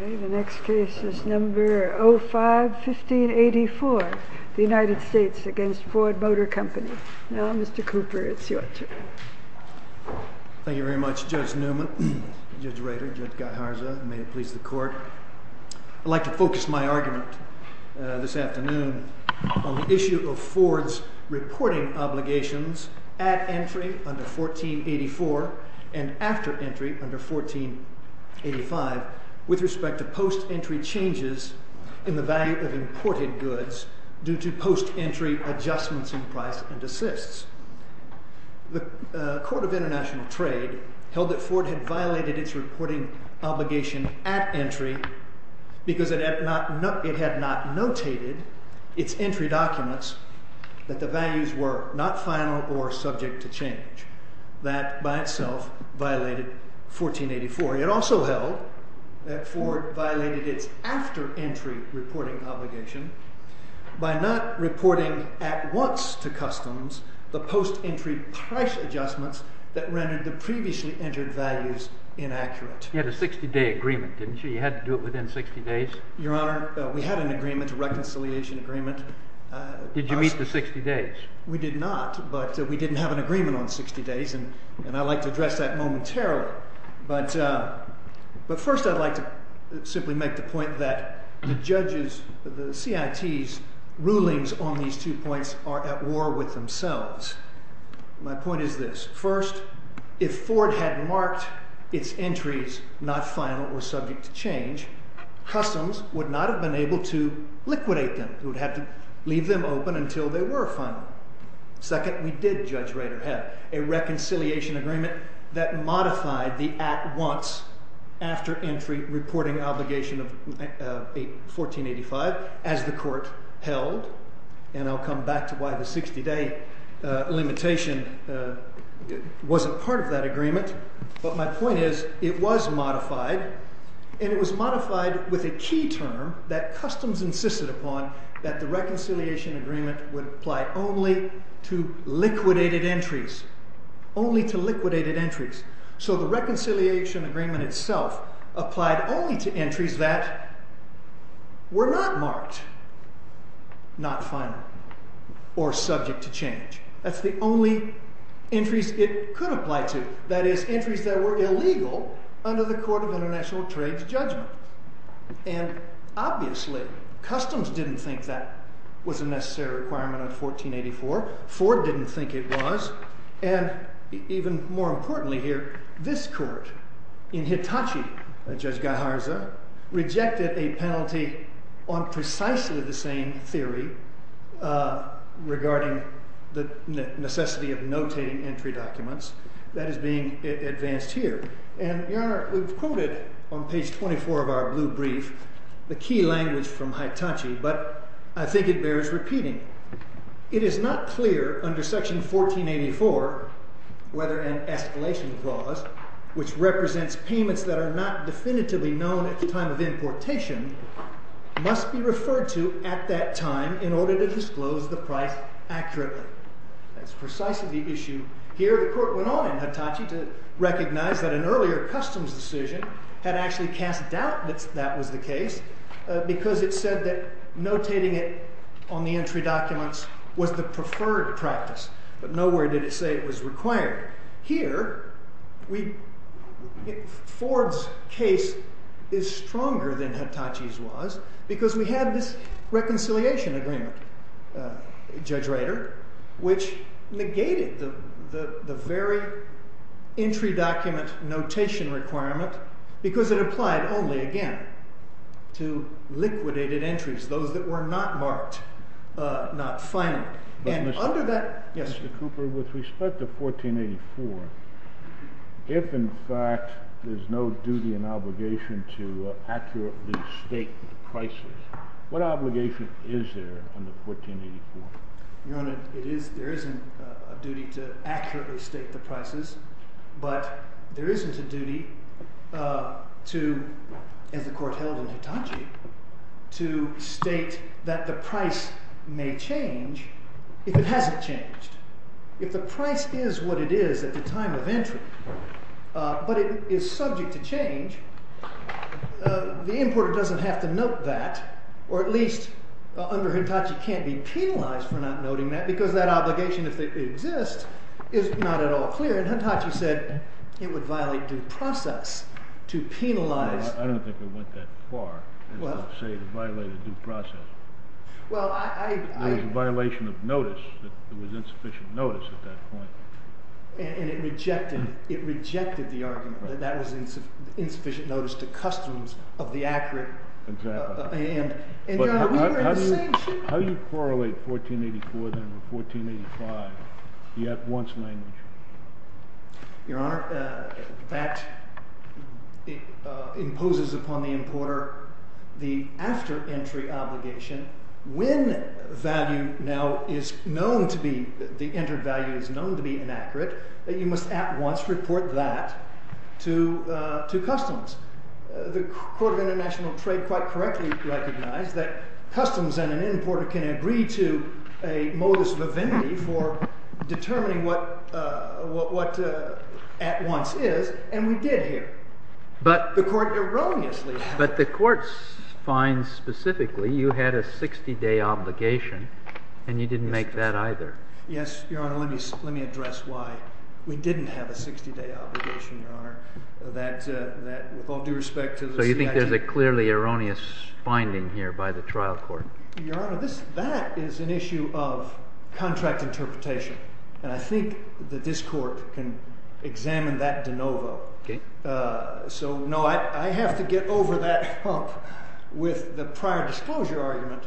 The next case is number 05-1584, the United States v. Ford Motor Company. Now Mr. Cooper, it's your turn. Thank you very much Judge Newman, Judge Rader, Judge Garza, and may it please the court. I'd like to focus my argument this afternoon on the issue of Ford's reporting obligations at entry under 1484 and after entry under 1485 with respect to post-entry changes in the value of imported goods due to post-entry adjustments in price and assists. The Court of International Trade held that Ford had violated its reporting obligation at entry because it had not notated its entry documents that the values were not final or subject to change. That by itself violated 1484. It also held that Ford violated its after-entry reporting obligation by not reporting at once to customs the post-entry price adjustments that rendered the previously entered values inaccurate. You had a 60-day agreement, didn't you? You had to do it within 60 days? Your Honor, we had an agreement, a reconciliation agreement. Did you meet the 60 days? We did not, but we didn't have an agreement on 60 days, and I'd like to address that momentarily. But first I'd like to simply make the point that the judges, the CITs' rulings on these two points are at war with themselves. My point is this. First, if Ford had marked its entries not final or subject to change, customs would not have been able to liquidate them. It would have to leave them open until they were final. Second, we did, Judge Rader, have a reconciliation agreement that modified the at-once after-entry reporting obligation of 1485 as the Court held. And I'll come back to why the 60-day limitation wasn't part of that agreement. But my point is it was modified, and it was modified with a key term that customs insisted upon that the reconciliation agreement would apply only to liquidated entries. Only to liquidated entries. So the reconciliation agreement itself applied only to entries that were not marked not final or subject to change. That's the only entries it could apply to. That is, entries that were illegal under the Court of International Trade's judgment. And obviously customs didn't think that was a necessary requirement of 1484. Ford didn't think it was. And even more importantly here, this Court, in Hitachi, Judge Guijarza, rejected a penalty on precisely the same theory regarding the necessity of notating entry documents. That is being advanced here. And, Your Honor, we've quoted on page 24 of our blue brief the key language from Hitachi, but I think it bears repeating. It is not clear under section 1484 whether an escalation clause, which represents payments that are not definitively known at the time of importation, must be referred to at that time in order to disclose the price accurately. That's precisely the issue here. Here the Court went on in Hitachi to recognize that an earlier customs decision had actually cast doubt that that was the case because it said that notating it on the entry documents was the preferred practice. But nowhere did it say it was required. Here, Ford's case is stronger than Hitachi's was because we had this reconciliation agreement, Judge Rader, which negated the very entry document notation requirement because it applied only, again, to liquidated entries, those that were not marked, not final. Mr. Cooper, with respect to 1484, if in fact there's no duty and obligation to accurately state the prices, what obligation is there under 1484? Your Honor, there isn't a duty to accurately state the prices, but there isn't a duty to, as the Court held in Hitachi, to state that the price may change if it hasn't changed. If the price is what it is at the time of entry, but it is subject to change, the importer doesn't have to note that, or at least under Hitachi can't be penalized for not noting that because that obligation, if it exists, is not at all clear. And Hitachi said it would violate due process to penalize. I don't think it went that far as to say it violated due process. It was a violation of notice. There was insufficient notice at that point. And it rejected the argument that that was insufficient notice to customs of the accurate. Exactly. And, Your Honor, we were in the same situation. How do you correlate 1484, then, with 1485, the at-once language? Your Honor, that imposes upon the importer the after-entry obligation. When value now is known to be, the entered value is known to be inaccurate, that you must at-once report that to customs. The Court of International Trade quite correctly recognized that customs and an importer can agree to a modus vivendi for determining what at-once is. And we did here. But the court erroneously had— But the court finds specifically you had a 60-day obligation, and you didn't make that either. Yes, Your Honor. Let me address why we didn't have a 60-day obligation, Your Honor. With all due respect to the— So you think there's a clearly erroneous finding here by the trial court? Your Honor, that is an issue of contract interpretation. And I think that this court can examine that de novo. Okay. So, no, I have to get over that hump with the prior disclosure argument,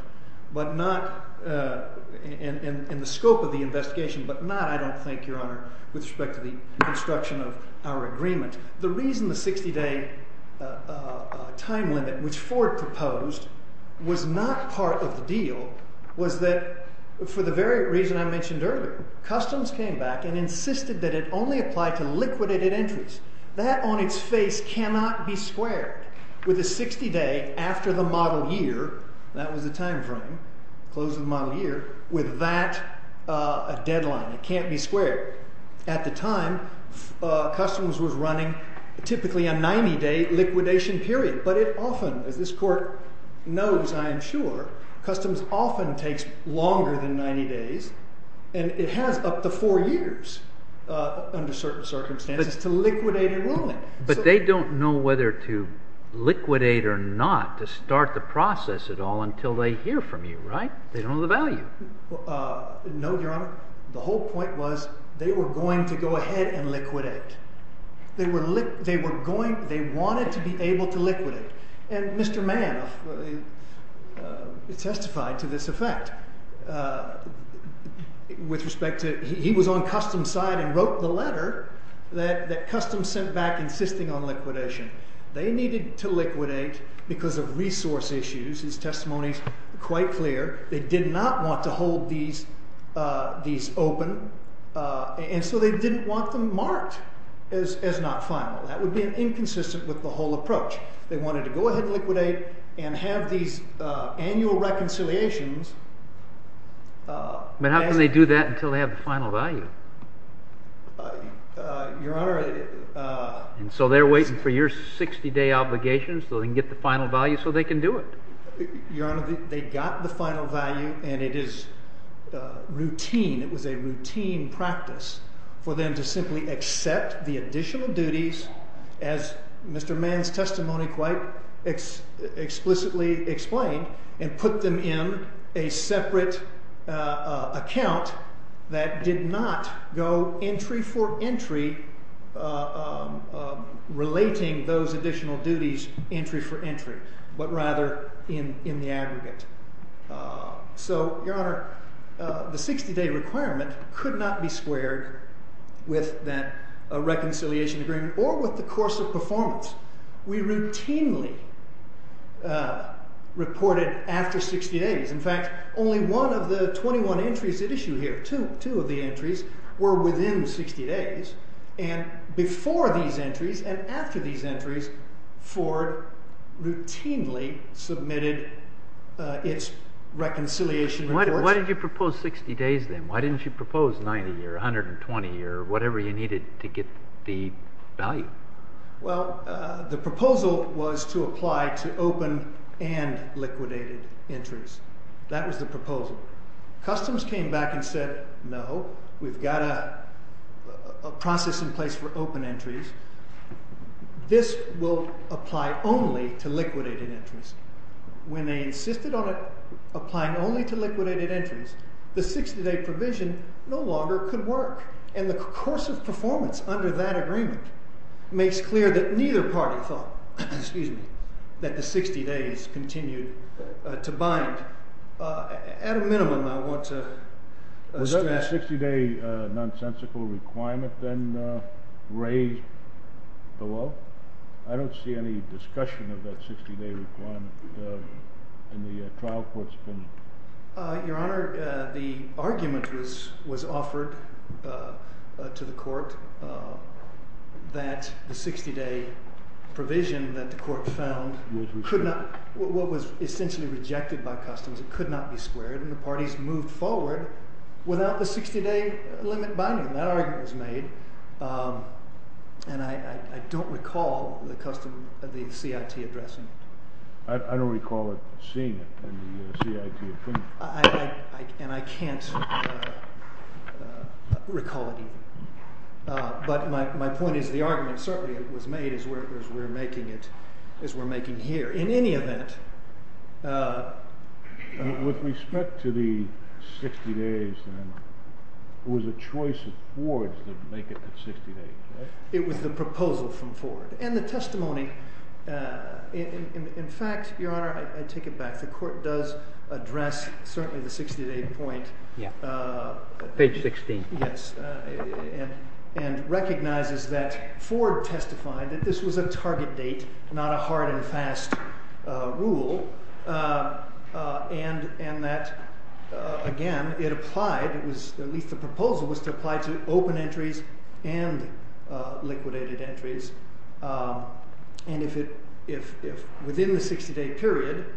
but not—in the scope of the investigation, but not, I don't think, Your Honor, with respect to the construction of our agreement. The reason the 60-day time limit, which Ford proposed, was not part of the deal was that for the very reason I mentioned earlier. Customs came back and insisted that it only apply to liquidated entries. That on its face cannot be square. With a 60-day after the model year, that was the time frame, close of the model year, with that deadline, it can't be square. At the time, Customs was running typically a 90-day liquidation period. But it often, as this court knows, I am sure, Customs often takes longer than 90 days, and it has up to four years under certain circumstances, to liquidate enrollment. But they don't know whether to liquidate or not to start the process at all until they hear from you, right? They don't know the value. No, Your Honor. The whole point was they were going to go ahead and liquidate. They were going—they wanted to be able to liquidate. And Mr. Mann testified to this effect with respect to—he was on Customs' side and wrote the letter that Customs sent back insisting on liquidation. They needed to liquidate because of resource issues. His testimony is quite clear. They did not want to hold these open, and so they didn't want them marked as not final. That would be inconsistent with the whole approach. They wanted to go ahead and liquidate and have these annual reconciliations. But how can they do that until they have the final value? Your Honor— And so they're waiting for your 60-day obligation so they can get the final value so they can do it. Your Honor, they got the final value, and it is routine—it was a routine practice for them to simply accept the additional duties, as Mr. Mann's testimony quite explicitly explained, and put them in a separate account that did not go entry for entry relating those additional duties entry for entry, but rather in the aggregate. So, Your Honor, the 60-day requirement could not be squared with that reconciliation agreement or with the course of performance. We routinely reported after 60 days. In fact, only one of the 21 entries at issue here, two of the entries, were within 60 days. And before these entries and after these entries, Ford routinely submitted its reconciliation reports. Why didn't you propose 60 days then? Why didn't you propose 90 years, 120 years, whatever you needed to get the value? Well, the proposal was to apply to open and liquidated entries. That was the proposal. Customs came back and said, no, we've got a process in place for open entries. This will apply only to liquidated entries. When they insisted on applying only to liquidated entries, the 60-day provision no longer could work. And the course of performance under that agreement makes clear that neither party thought that the 60 days continued to bind. At a minimum, I want to stress— Was there a 60-day nonsensical requirement then raised below? I don't see any discussion of that 60-day requirement in the trial court's opinion. Your Honor, the argument was offered to the court that the 60-day provision that the court found could not— what was essentially rejected by Customs, it could not be squared. And the parties moved forward without the 60-day limit binding. That argument was made. And I don't recall the CIT addressing it. I don't recall seeing it in the CIT opinion. And I can't recall it either. But my point is the argument certainly was made as we're making here. In any event— With respect to the 60 days then, it was a choice of Ford to make it the 60 days, right? It was the proposal from Ford. And the testimony— In fact, Your Honor, I take it back. The court does address certainly the 60-day point. Yeah. Page 16. Yes. And recognizes that Ford testified that this was a target date, not a hard and fast rule. And that, again, it applied—at least the proposal was to apply to open entries and liquidated entries. And if within the 60-day period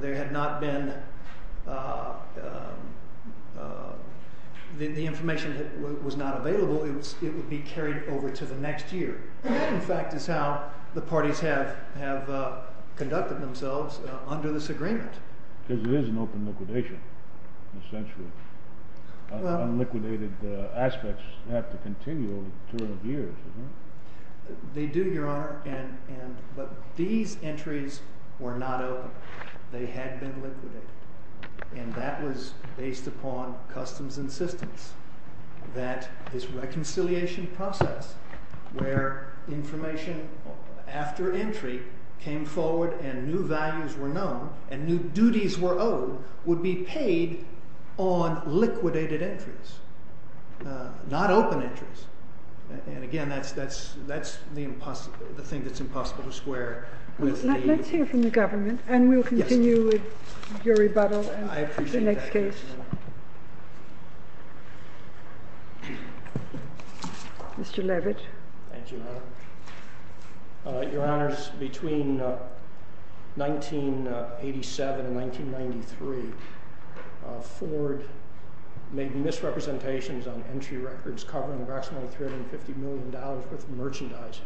there had not been—the information was not available, it would be carried over to the next year. That, in fact, is how the parties have conducted themselves under this agreement. Because it is an open liquidation, essentially. Unliquidated aspects have to continue over a period of years, isn't it? They do, Your Honor. But these entries were not open. They had been liquidated. And that was based upon customs and systems. That this reconciliation process, where information after entry came forward and new values were known and new duties were owed, would be paid on liquidated entries, not open entries. And, again, that's the thing that's impossible to square with the— Let's hear from the government, and we'll continue with your rebuttal and the next case. I appreciate that, Your Honor. Mr. Levitt. Thank you, Your Honor. Your Honors, between 1987 and 1993, Ford made misrepresentations on entry records covering approximately $350 million worth of merchandise.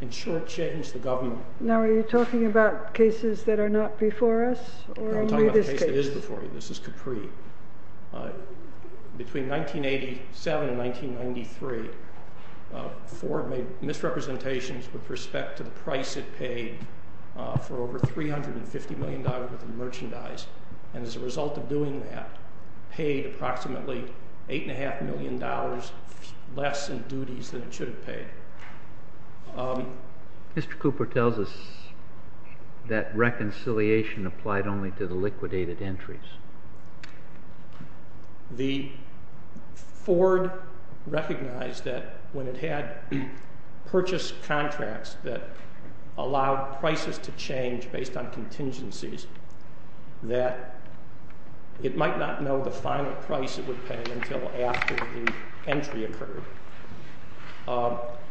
In short, it was the government. Now, are you talking about cases that are not before us, or only this case? There is before you. This is Capri. Between 1987 and 1993, Ford made misrepresentations with respect to the price it paid for over $350 million worth of merchandise, and as a result of doing that, paid approximately $8.5 million less in duties than it should have paid. Mr. Cooper tells us that reconciliation applied only to the liquidated entries. The Ford recognized that when it had purchased contracts that allowed prices to change based on contingencies, that it might not know the final price it would pay until after the entry occurred.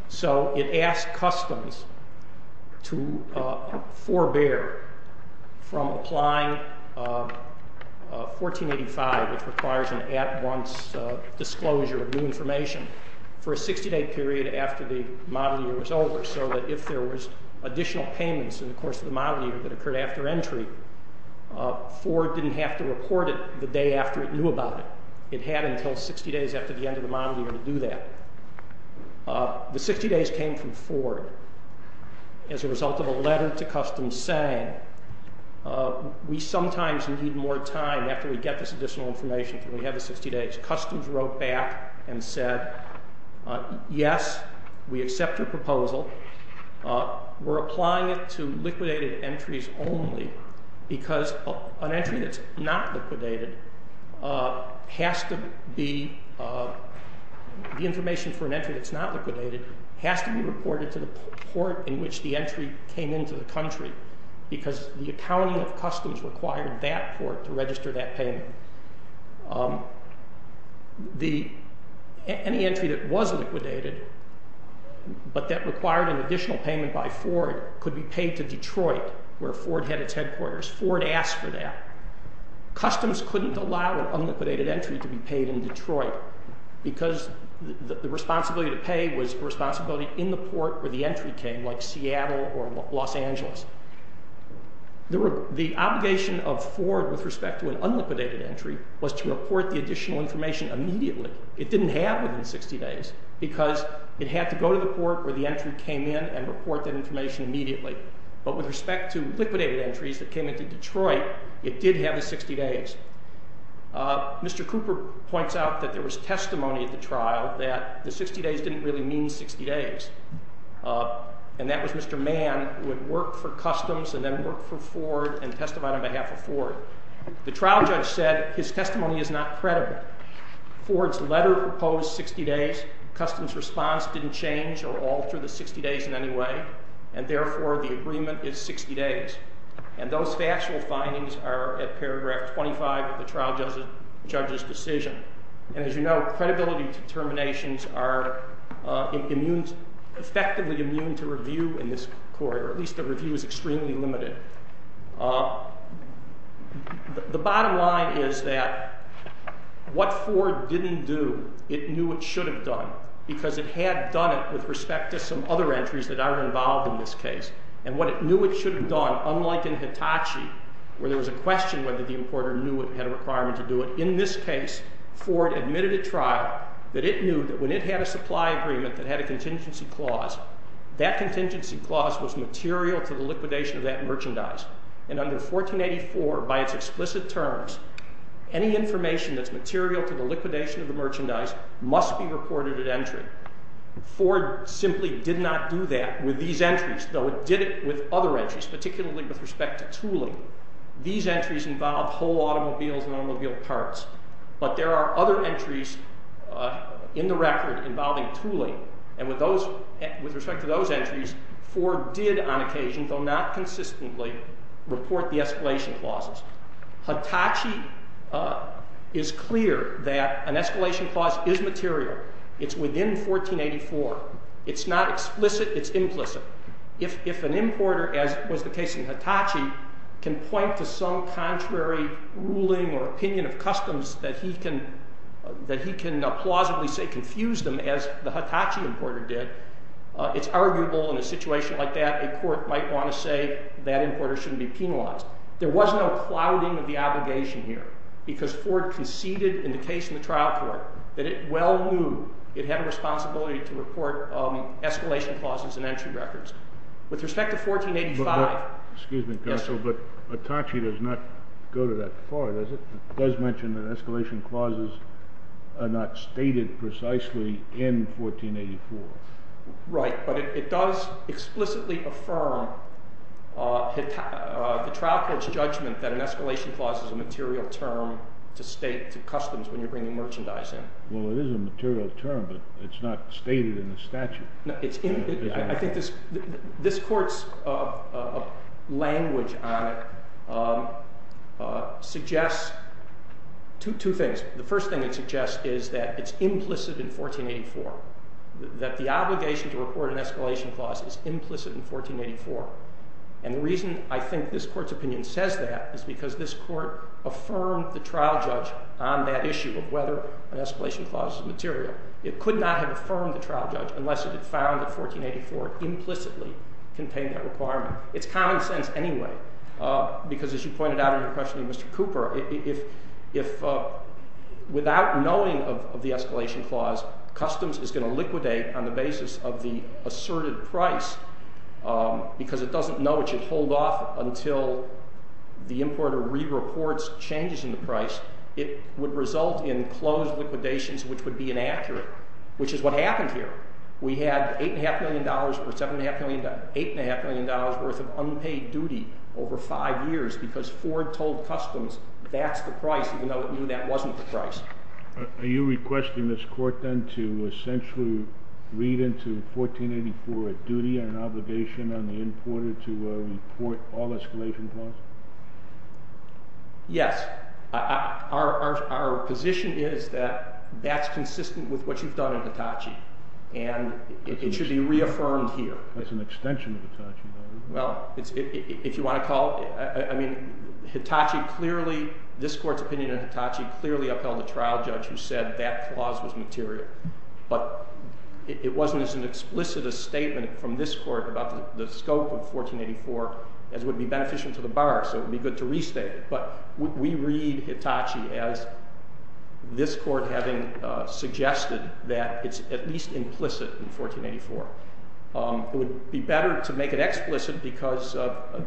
So it asked customs to forbear from applying 1485, which requires an at-once disclosure of new information, for a 60-day period after the model year was over, so that if there was additional payments in the course of the model year that occurred after entry, Ford didn't have to report it the day after it knew about it. It had until 60 days after the end of the model year to do that. The 60 days came from Ford as a result of a letter to customs saying, we sometimes need more time after we get this additional information until we have the 60 days. Customs wrote back and said, yes, we accept your proposal. We're applying it to liquidated entries only, because an entry that's not liquidated has to be, the information for an entry that's not liquidated has to be reported to the port in which the entry came into the country, because the accounting of customs required that port to register that payment. Any entry that was liquidated, but that required an additional payment by Ford, could be paid to Detroit, where Ford had its headquarters. Ford asked for that. Customs couldn't allow an unliquidated entry to be paid in Detroit, because the responsibility to pay was a responsibility in the port where the entry came, like Seattle or Los Angeles. The obligation of Ford with respect to an unliquidated entry was to report the additional information immediately. It didn't have within 60 days, because it had to go to the port where the entry came in and report that information immediately. But with respect to liquidated entries that came into Detroit, it did have the 60 days. Mr. Cooper points out that there was testimony at the trial that the 60 days didn't really mean 60 days. And that was Mr. Mann, who had worked for customs and then worked for Ford and testified on behalf of Ford. The trial judge said his testimony is not credible. Ford's letter proposed 60 days. Customs' response didn't change or alter the 60 days in any way, and therefore the agreement is 60 days. And those factual findings are at paragraph 25 of the trial judge's decision. And as you know, credibility determinations are effectively immune to review in this court, or at least the review is extremely limited. The bottom line is that what Ford didn't do, it knew it should have done, because it had done it with respect to some other entries that aren't involved in this case. And what it knew it should have done, unlike in Hitachi, where there was a question whether the importer knew it and had a requirement to do it, in this case, Ford admitted at trial that it knew that when it had a supply agreement that had a contingency clause, that contingency clause was material to the liquidation of that merchandise. And under 1484, by its explicit terms, any information that's material to the liquidation of the merchandise must be reported at entry. Ford simply did not do that with these entries, though it did it with other entries, particularly with respect to tooling. These entries involved whole automobiles and automobile parts, but there are other entries in the record involving tooling. And with respect to those entries, Ford did on occasion, though not consistently, report the escalation clauses. Hitachi is clear that an escalation clause is material. It's within 1484. It's not explicit, it's implicit. If an importer, as was the case in Hitachi, can point to some contrary ruling or opinion of customs that he can plausibly say confused them, as the Hitachi importer did, it's arguable in a situation like that a court might want to say that importer shouldn't be penalized. There was no clouding of the obligation here, because Ford conceded in the case in the trial court that it well knew it had a responsibility to report escalation clauses in entry records. With respect to 1485— Excuse me, counsel, but Hitachi does not go to that far, does it? It does mention that escalation clauses are not stated precisely in 1484. Right, but it does explicitly affirm the trial court's judgment that an escalation clause is a material term to state to customs when you're bringing merchandise in. Well, it is a material term, but it's not stated in the statute. I think this court's language on it suggests two things. The first thing it suggests is that it's implicit in 1484, that the obligation to report an escalation clause is implicit in 1484. And the reason I think this court's opinion says that is because this court affirmed the trial judge on that issue of whether an escalation clause is material. It could not have affirmed the trial judge unless it had found that 1484 implicitly contained that requirement. It's common sense anyway, because as you pointed out in your question to Mr. Cooper, if without knowing of the escalation clause, customs is going to liquidate on the basis of the asserted price, because it doesn't know it should hold off until the importer re-reports changes in the price, it would result in closed liquidations which would be inaccurate, which is what happened here. We had $8.5 million or $7.5 million—$8.5 million worth of unpaid duty over five years because Ford told customs that's the price even though it knew that wasn't the price. Are you requesting this court then to essentially read into 1484 a duty and obligation on the importer to report all escalation clauses? Yes. Our position is that that's consistent with what you've done in Hitachi, and it should be reaffirmed here. That's an extension of Hitachi, though. Well, if you want to call—I mean, Hitachi clearly—this court's opinion of Hitachi clearly upheld a trial judge who said that clause was material. But it wasn't as explicit a statement from this court about the scope of 1484 as would be beneficial to the bar, so it would be good to restate it. But we read Hitachi as this court having suggested that it's at least implicit in 1484. It would be better to make it explicit because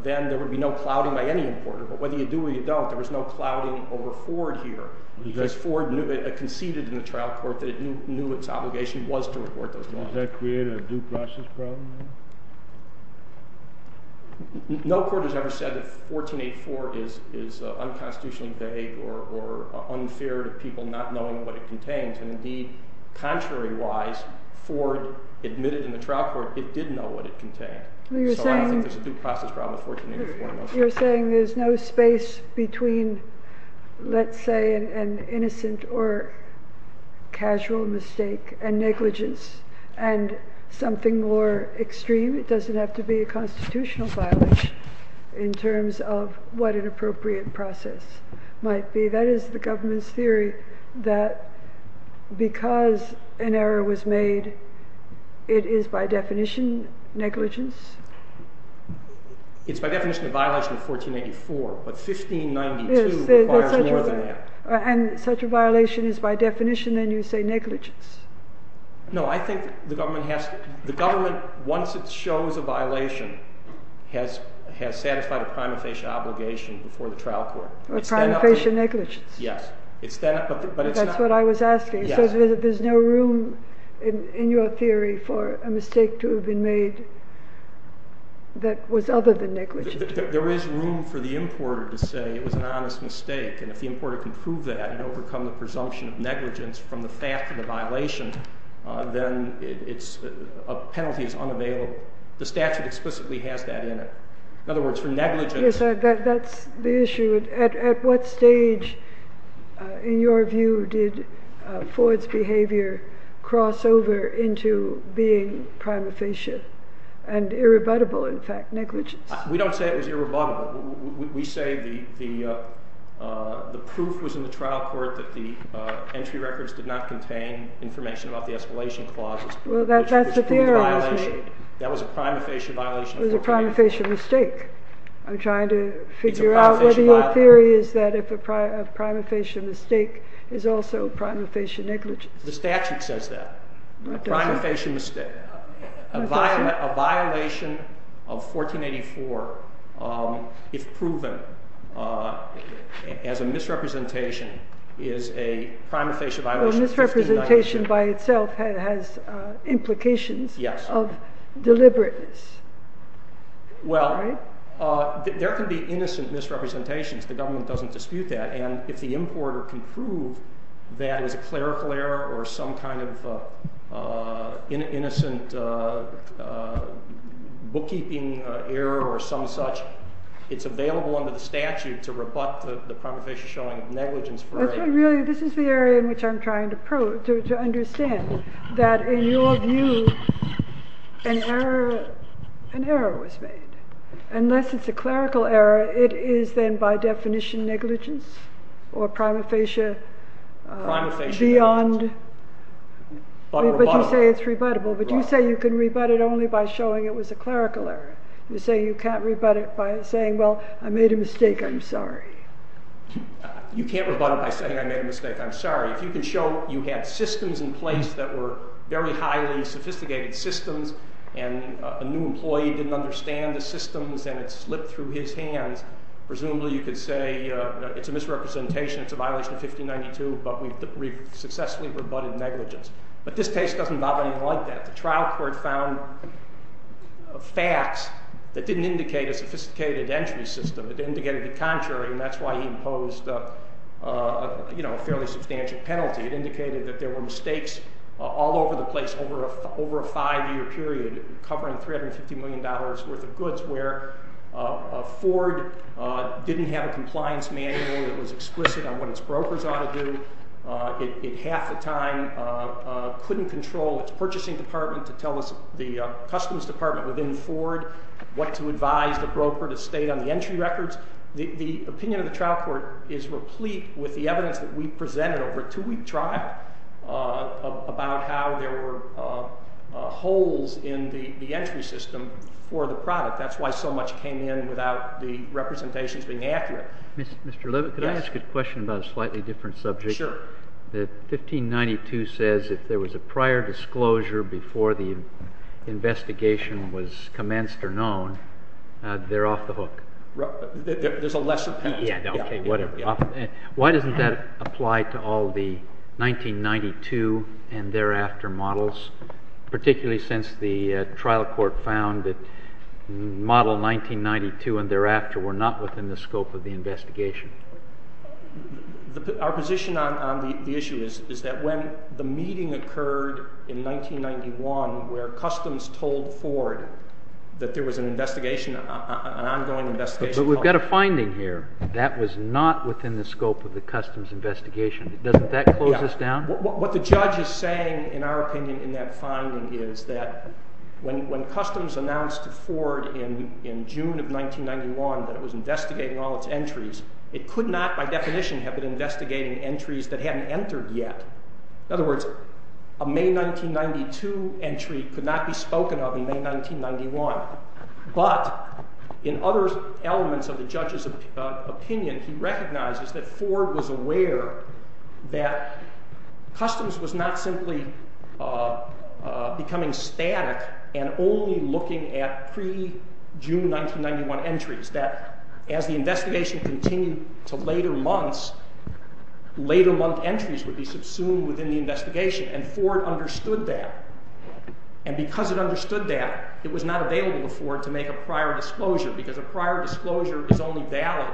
then there would be no clouding by any importer. But whether you do or you don't, there was no clouding over Ford here because Ford conceded in the trial court that it knew its obligation was to report those clauses. Does that create a due process problem then? No court has ever said that 1484 is unconstitutionally vague or unfair to people not knowing what it contains. And indeed, contrary-wise, Ford admitted in the trial court it did know what it contained. So I don't think there's a due process problem with 1484. You're saying there's no space between, let's say, an innocent or casual mistake and negligence and something more extreme. It doesn't have to be a constitutional violation in terms of what an appropriate process might be. That is the government's theory that because an error was made, it is by definition negligence? It's by definition a violation of 1484, but 1592 requires more than that. And such a violation is by definition, then, you say negligence? No, I think the government, once it shows a violation, has satisfied a prima facie obligation before the trial court. A prima facie negligence. Yes. That's what I was asking. So there's no room in your theory for a mistake to have been made that was other than negligence? There is room for the importer to say it was an honest mistake. And if the importer can prove that and overcome the presumption of negligence from the fact of the violation, then a penalty is unavailable. The statute explicitly has that in it. In other words, for negligence. Yes, that's the issue. At what stage, in your view, did Ford's behavior cross over into being prima facie and irrebuttable, in fact, negligence? We don't say it was irrebuttable. We say the proof was in the trial court that the entry records did not contain information about the escalation clauses. Well, that's the theory. That was a prima facie violation. It was a prima facie mistake. I'm trying to figure out whether your theory is that a prima facie mistake is also a prima facie negligence. The statute says that. A prima facie mistake. A violation of 1484, if proven as a misrepresentation, is a prima facie violation. So misrepresentation by itself has implications of deliberateness. Well, there can be innocent misrepresentations. The government doesn't dispute that. And if the importer can prove that it was a clerical error or some kind of innocent bookkeeping error or some such, it's available under the statute to rebut the prima facie showing negligence. Really, this is the area in which I'm trying to understand. That in your view, an error was made. Unless it's a clerical error, it is then by definition negligence or prima facie beyond. But you say it's rebuttable. But you say you can rebut it only by showing it was a clerical error. You say you can't rebut it by saying, well, I made a mistake, I'm sorry. You can't rebut it by saying, I made a mistake, I'm sorry. If you can show you had systems in place that were very highly sophisticated systems and a new employee didn't understand the systems and it slipped through his hands, presumably you could say it's a misrepresentation, it's a violation of 1592, but we've successfully rebutted negligence. But this case doesn't bother me like that. The trial court found facts that didn't indicate a sophisticated entry system. It indicated the contrary, and that's why he imposed a fairly substantial penalty. It indicated that there were mistakes all over the place over a five-year period covering $350 million worth of goods where Ford didn't have a compliance manual that was explicit on what its brokers ought to do. It half the time couldn't control its purchasing department to tell us the customs department within Ford what to advise the broker to state on the entry records. The opinion of the trial court is replete with the evidence that we presented over a two-week trial about how there were holes in the entry system for the product. That's why so much came in without the representations being accurate. Mr. Levitt, could I ask a question about a slightly different subject? Sure. That 1592 says if there was a prior disclosure before the investigation was commenced or known, they're off the hook. There's a lesser penalty. Why doesn't that apply to all the 1992 and thereafter models, particularly since the trial court found that model 1992 and thereafter were not within the scope of the investigation? Our position on the issue is that when the meeting occurred in 1991 where customs told Ford that there was an investigation, an ongoing investigation… But we've got a finding here. That was not within the scope of the customs investigation. Doesn't that close us down? What the judge is saying, in our opinion, in that finding is that when customs announced to Ford in June of 1991 that it was investigating all its entries, it could not by definition have been investigating entries that hadn't entered yet. In other words, a May 1992 entry could not be spoken of in May 1991. But in other elements of the judge's opinion, he recognizes that Ford was aware that customs was not simply becoming static and only looking at pre-June 1991 entries. That as the investigation continued to later months, later month entries would be subsumed within the investigation, and Ford understood that. And because it understood that, it was not available to Ford to make a prior disclosure, because a prior disclosure is only valid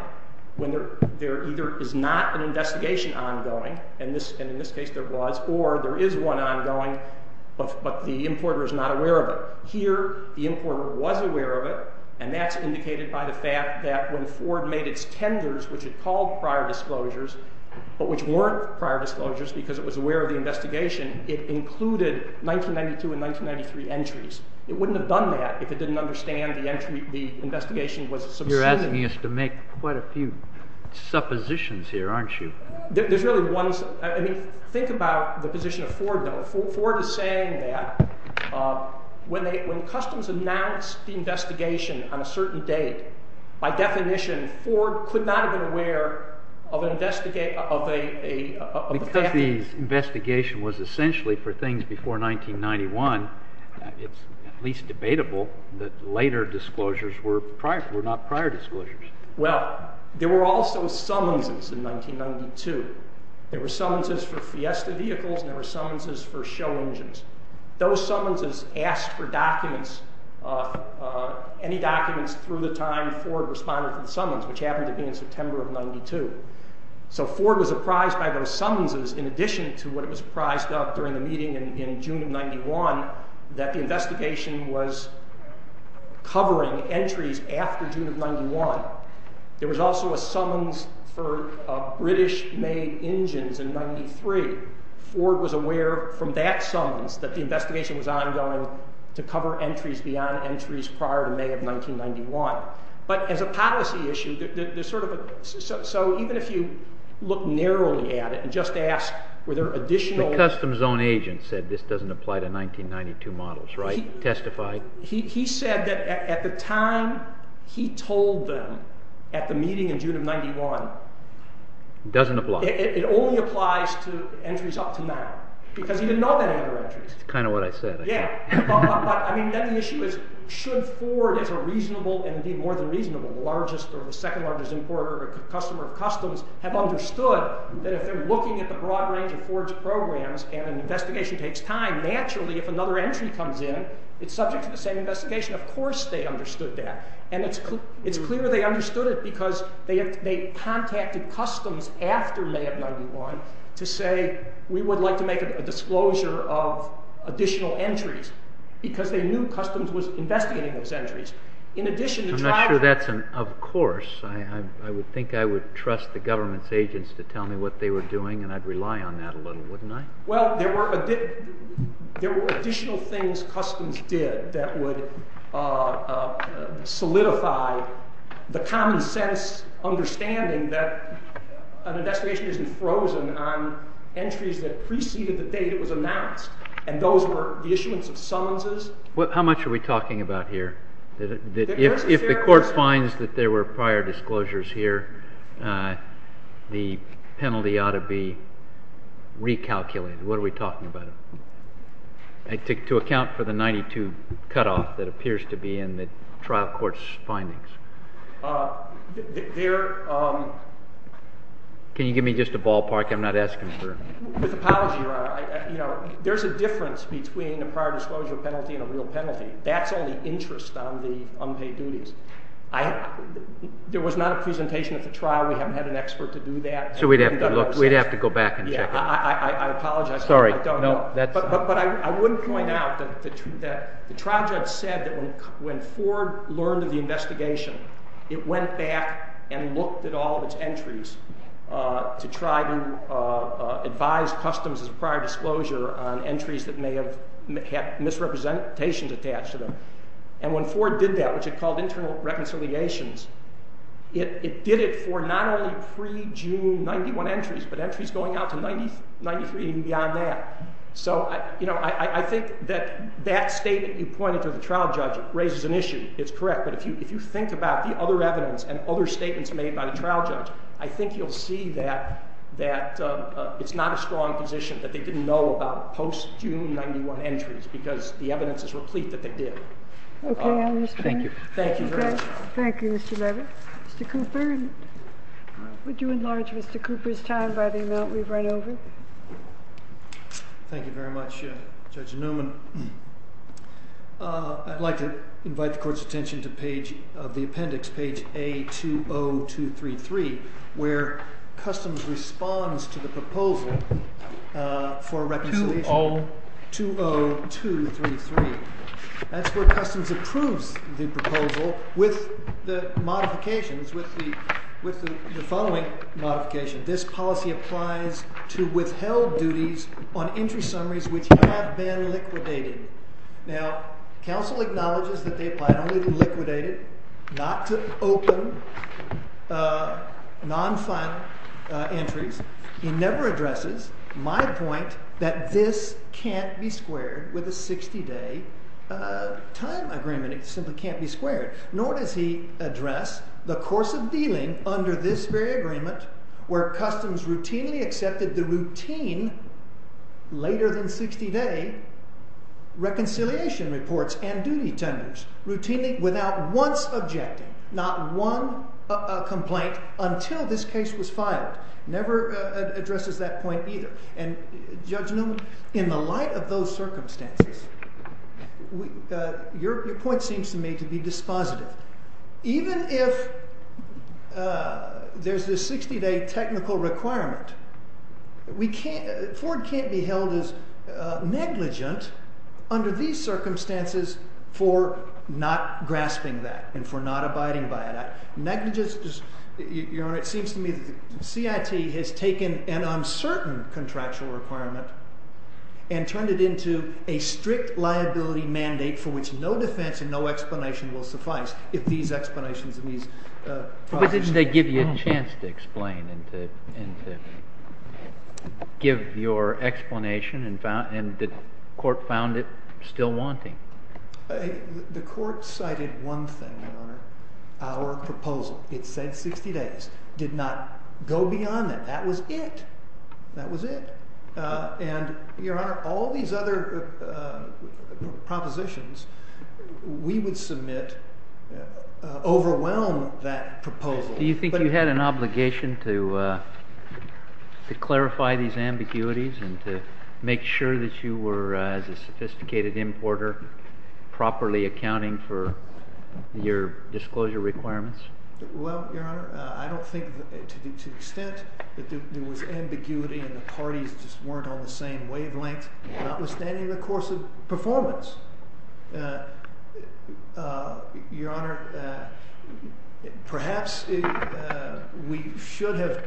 when there either is not an investigation ongoing, and in this case there was, or there is one ongoing, but the importer is not aware of it. Here, the importer was aware of it, and that's indicated by the fact that when Ford made its tenders, which it called prior disclosures, but which weren't prior disclosures because it was aware of the investigation, it included 1992 and 1993 entries. It wouldn't have done that if it didn't understand the investigation was subsumed. You're asking us to make quite a few suppositions here, aren't you? There's really one. Think about the position of Ford, though. Ford is saying that when customs announced the investigation on a certain date, by definition, Ford could not have been aware of a… Because the investigation was essentially for things before 1991, it's at least debatable that later disclosures were not prior disclosures. Well, there were also summonses in 1992. There were summonses for Fiesta vehicles and there were summonses for show engines. Those summonses asked for documents, any documents through the time Ford responded to the summons, which happened to be in September of 1992. So Ford was apprised by those summonses, in addition to what it was apprised of during the meeting in June of 1991, that the investigation was covering entries after June of 1991. There was also a summons for British-made engines in 1993. Ford was aware from that summons that the investigation was ongoing to cover entries beyond entries prior to May of 1991. But as a policy issue, there's sort of a… So even if you look narrowly at it and just ask, were there additional… The customs zone agent said this doesn't apply to 1992 models, right? Testified? He said that at the time he told them at the meeting in June of 1991… It doesn't apply. It only applies to entries up to now, because he didn't know that there were entries. That's kind of what I said. But then the issue is, should Ford, as a reasonable, and indeed more than reasonable, largest or second largest importer or customer of customs, have understood that if they're looking at the broad range of Ford's programs and an investigation takes time, naturally if another entry comes in, it's subject to the same investigation. Of course they understood that. And it's clear they understood it because they contacted customs after May of 1991 to say, we would like to make a disclosure of additional entries, because they knew customs was investigating those entries. In addition, the tribe… I'm not sure that's an of course. I would think I would trust the government's agents to tell me what they were doing, and I'd rely on that a little, wouldn't I? Well, there were additional things customs did that would solidify the common sense understanding that an investigation isn't frozen on entries that preceded the date it was announced, and those were the issuance of summonses. How much are we talking about here? If the court finds that there were prior disclosures here, the penalty ought to be recalculated. What are we talking about, to account for the 92 cutoff that appears to be in the trial court's findings? Can you give me just a ballpark? I'm not asking for… There's a difference between a prior disclosure penalty and a real penalty. That's only interest on the unpaid duties. There was not a presentation at the trial. We haven't had an expert to do that. So we'd have to go back and check it. I apologize. Sorry. I don't know. The trial judge said that when Ford learned of the investigation, it went back and looked at all of its entries to try to advise customs as a prior disclosure on entries that may have had misrepresentations attached to them. And when Ford did that, which it called internal reconciliations, it did it for not only pre-June 91 entries, but entries going out to 93 and beyond that. So, you know, I think that that statement you pointed to the trial judge raises an issue. It's correct. But if you think about the other evidence and other statements made by the trial judge, I think you'll see that it's not a strong position that they didn't know about post-June 91 entries because the evidence is replete that they did. Okay. Thank you. Thank you very much. Thank you, Mr. Levitt. Mr. Cooper, would you enlarge Mr. Cooper's time by the amount we've run over? Thank you very much, Judge Newman. I'd like to invite the court's attention to page of the appendix, page A20233, where customs responds to the proposal for reconciliation. 20233. That's where customs approves the proposal with the modifications with the following modification. This policy applies to withheld duties on entry summaries which have been liquidated. Now, counsel acknowledges that they applied only to liquidate it, not to open non-final entries. He never addresses my point that this can't be squared with a 60-day time agreement. It simply can't be squared. Nor does he address the course of dealing under this very agreement where customs routinely accepted the routine later than 60-day reconciliation reports and duty tenders, routinely without once objecting, not one complaint, until this case was filed. Never addresses that point either. Judge Newman, in the light of those circumstances, your point seems to me to be dispositive. Even if there's this 60-day technical requirement, Ford can't be held as negligent under these circumstances for not grasping that and for not abiding by that. Your Honor, it seems to me that the CIT has taken an uncertain contractual requirement and turned it into a strict liability mandate for which no defense and no explanation will suffice if these explanations and these procedures are not followed. But didn't they give you a chance to explain and to give your explanation and the court found it still wanting? The court cited one thing, Your Honor, our proposal. It said 60 days. Did not go beyond that. That was it. That was it. And, Your Honor, all these other propositions, we would submit overwhelm that proposal. Do you think you had an obligation to clarify these ambiguities and to make sure that you were, as a sophisticated importer, properly accounting for your disclosure requirements? Well, Your Honor, I don't think to the extent that there was ambiguity and the parties just weren't on the same wavelength, notwithstanding the course of performance. Your Honor, perhaps we should have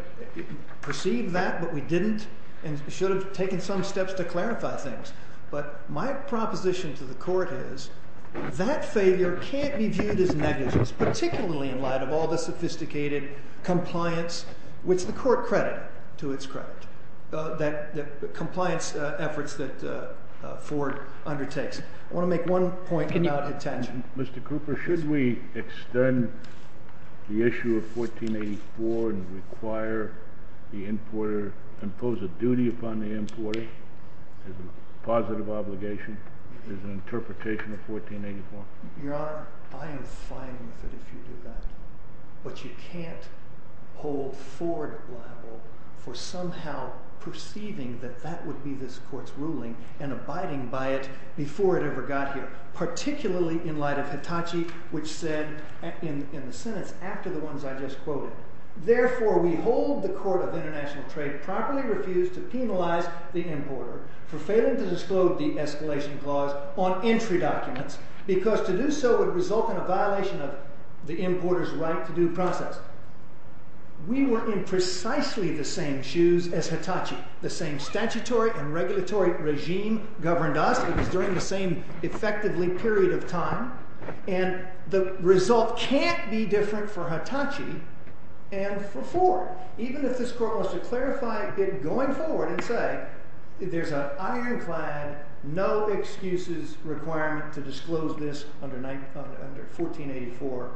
perceived that, but we didn't and should have taken some steps to clarify things. But my proposition to the court is that failure can't be viewed as negligence, particularly in light of all the sophisticated compliance, which the court credited to its credit, the compliance efforts that Ford undertakes. I want to make one point about attention. Mr. Cooper, should we extend the issue of 1484 and require the importer, impose a duty upon the importer as a positive obligation, as an interpretation of 1484? Your Honor, I am fine with it if you do that. But you can't hold Ford liable for somehow perceiving that that would be this court's ruling and abiding by it before it ever got here, particularly in light of Hitachi, which said in the sentence after the ones I just quoted, Therefore, we hold the Court of International Trade properly refused to penalize the importer for failing to disclose the escalation clause on entry documents because to do so would result in a violation of the importer's right to due process. We were in precisely the same shoes as Hitachi. The same statutory and regulatory regime governed us. It was during the same, effectively, period of time. And the result can't be different for Hitachi and for Ford, even if this court wants to clarify it going forward and say there's an ironclad, no excuses requirement to disclose this under 1484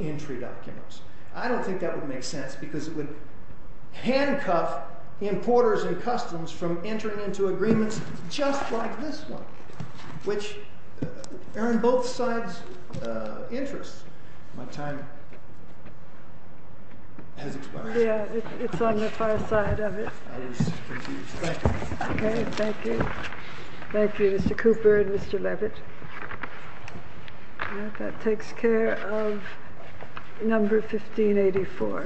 entry documents. I don't think that would make sense because it would handcuff importers and customs from entering into agreements just like this one, which are in both sides' interests. My time has expired. Yeah, it's on the far side of it. I was confused. Thank you. Okay, thank you. Thank you, Mr. Cooper and Mr. Levitt. That takes care of number 1584.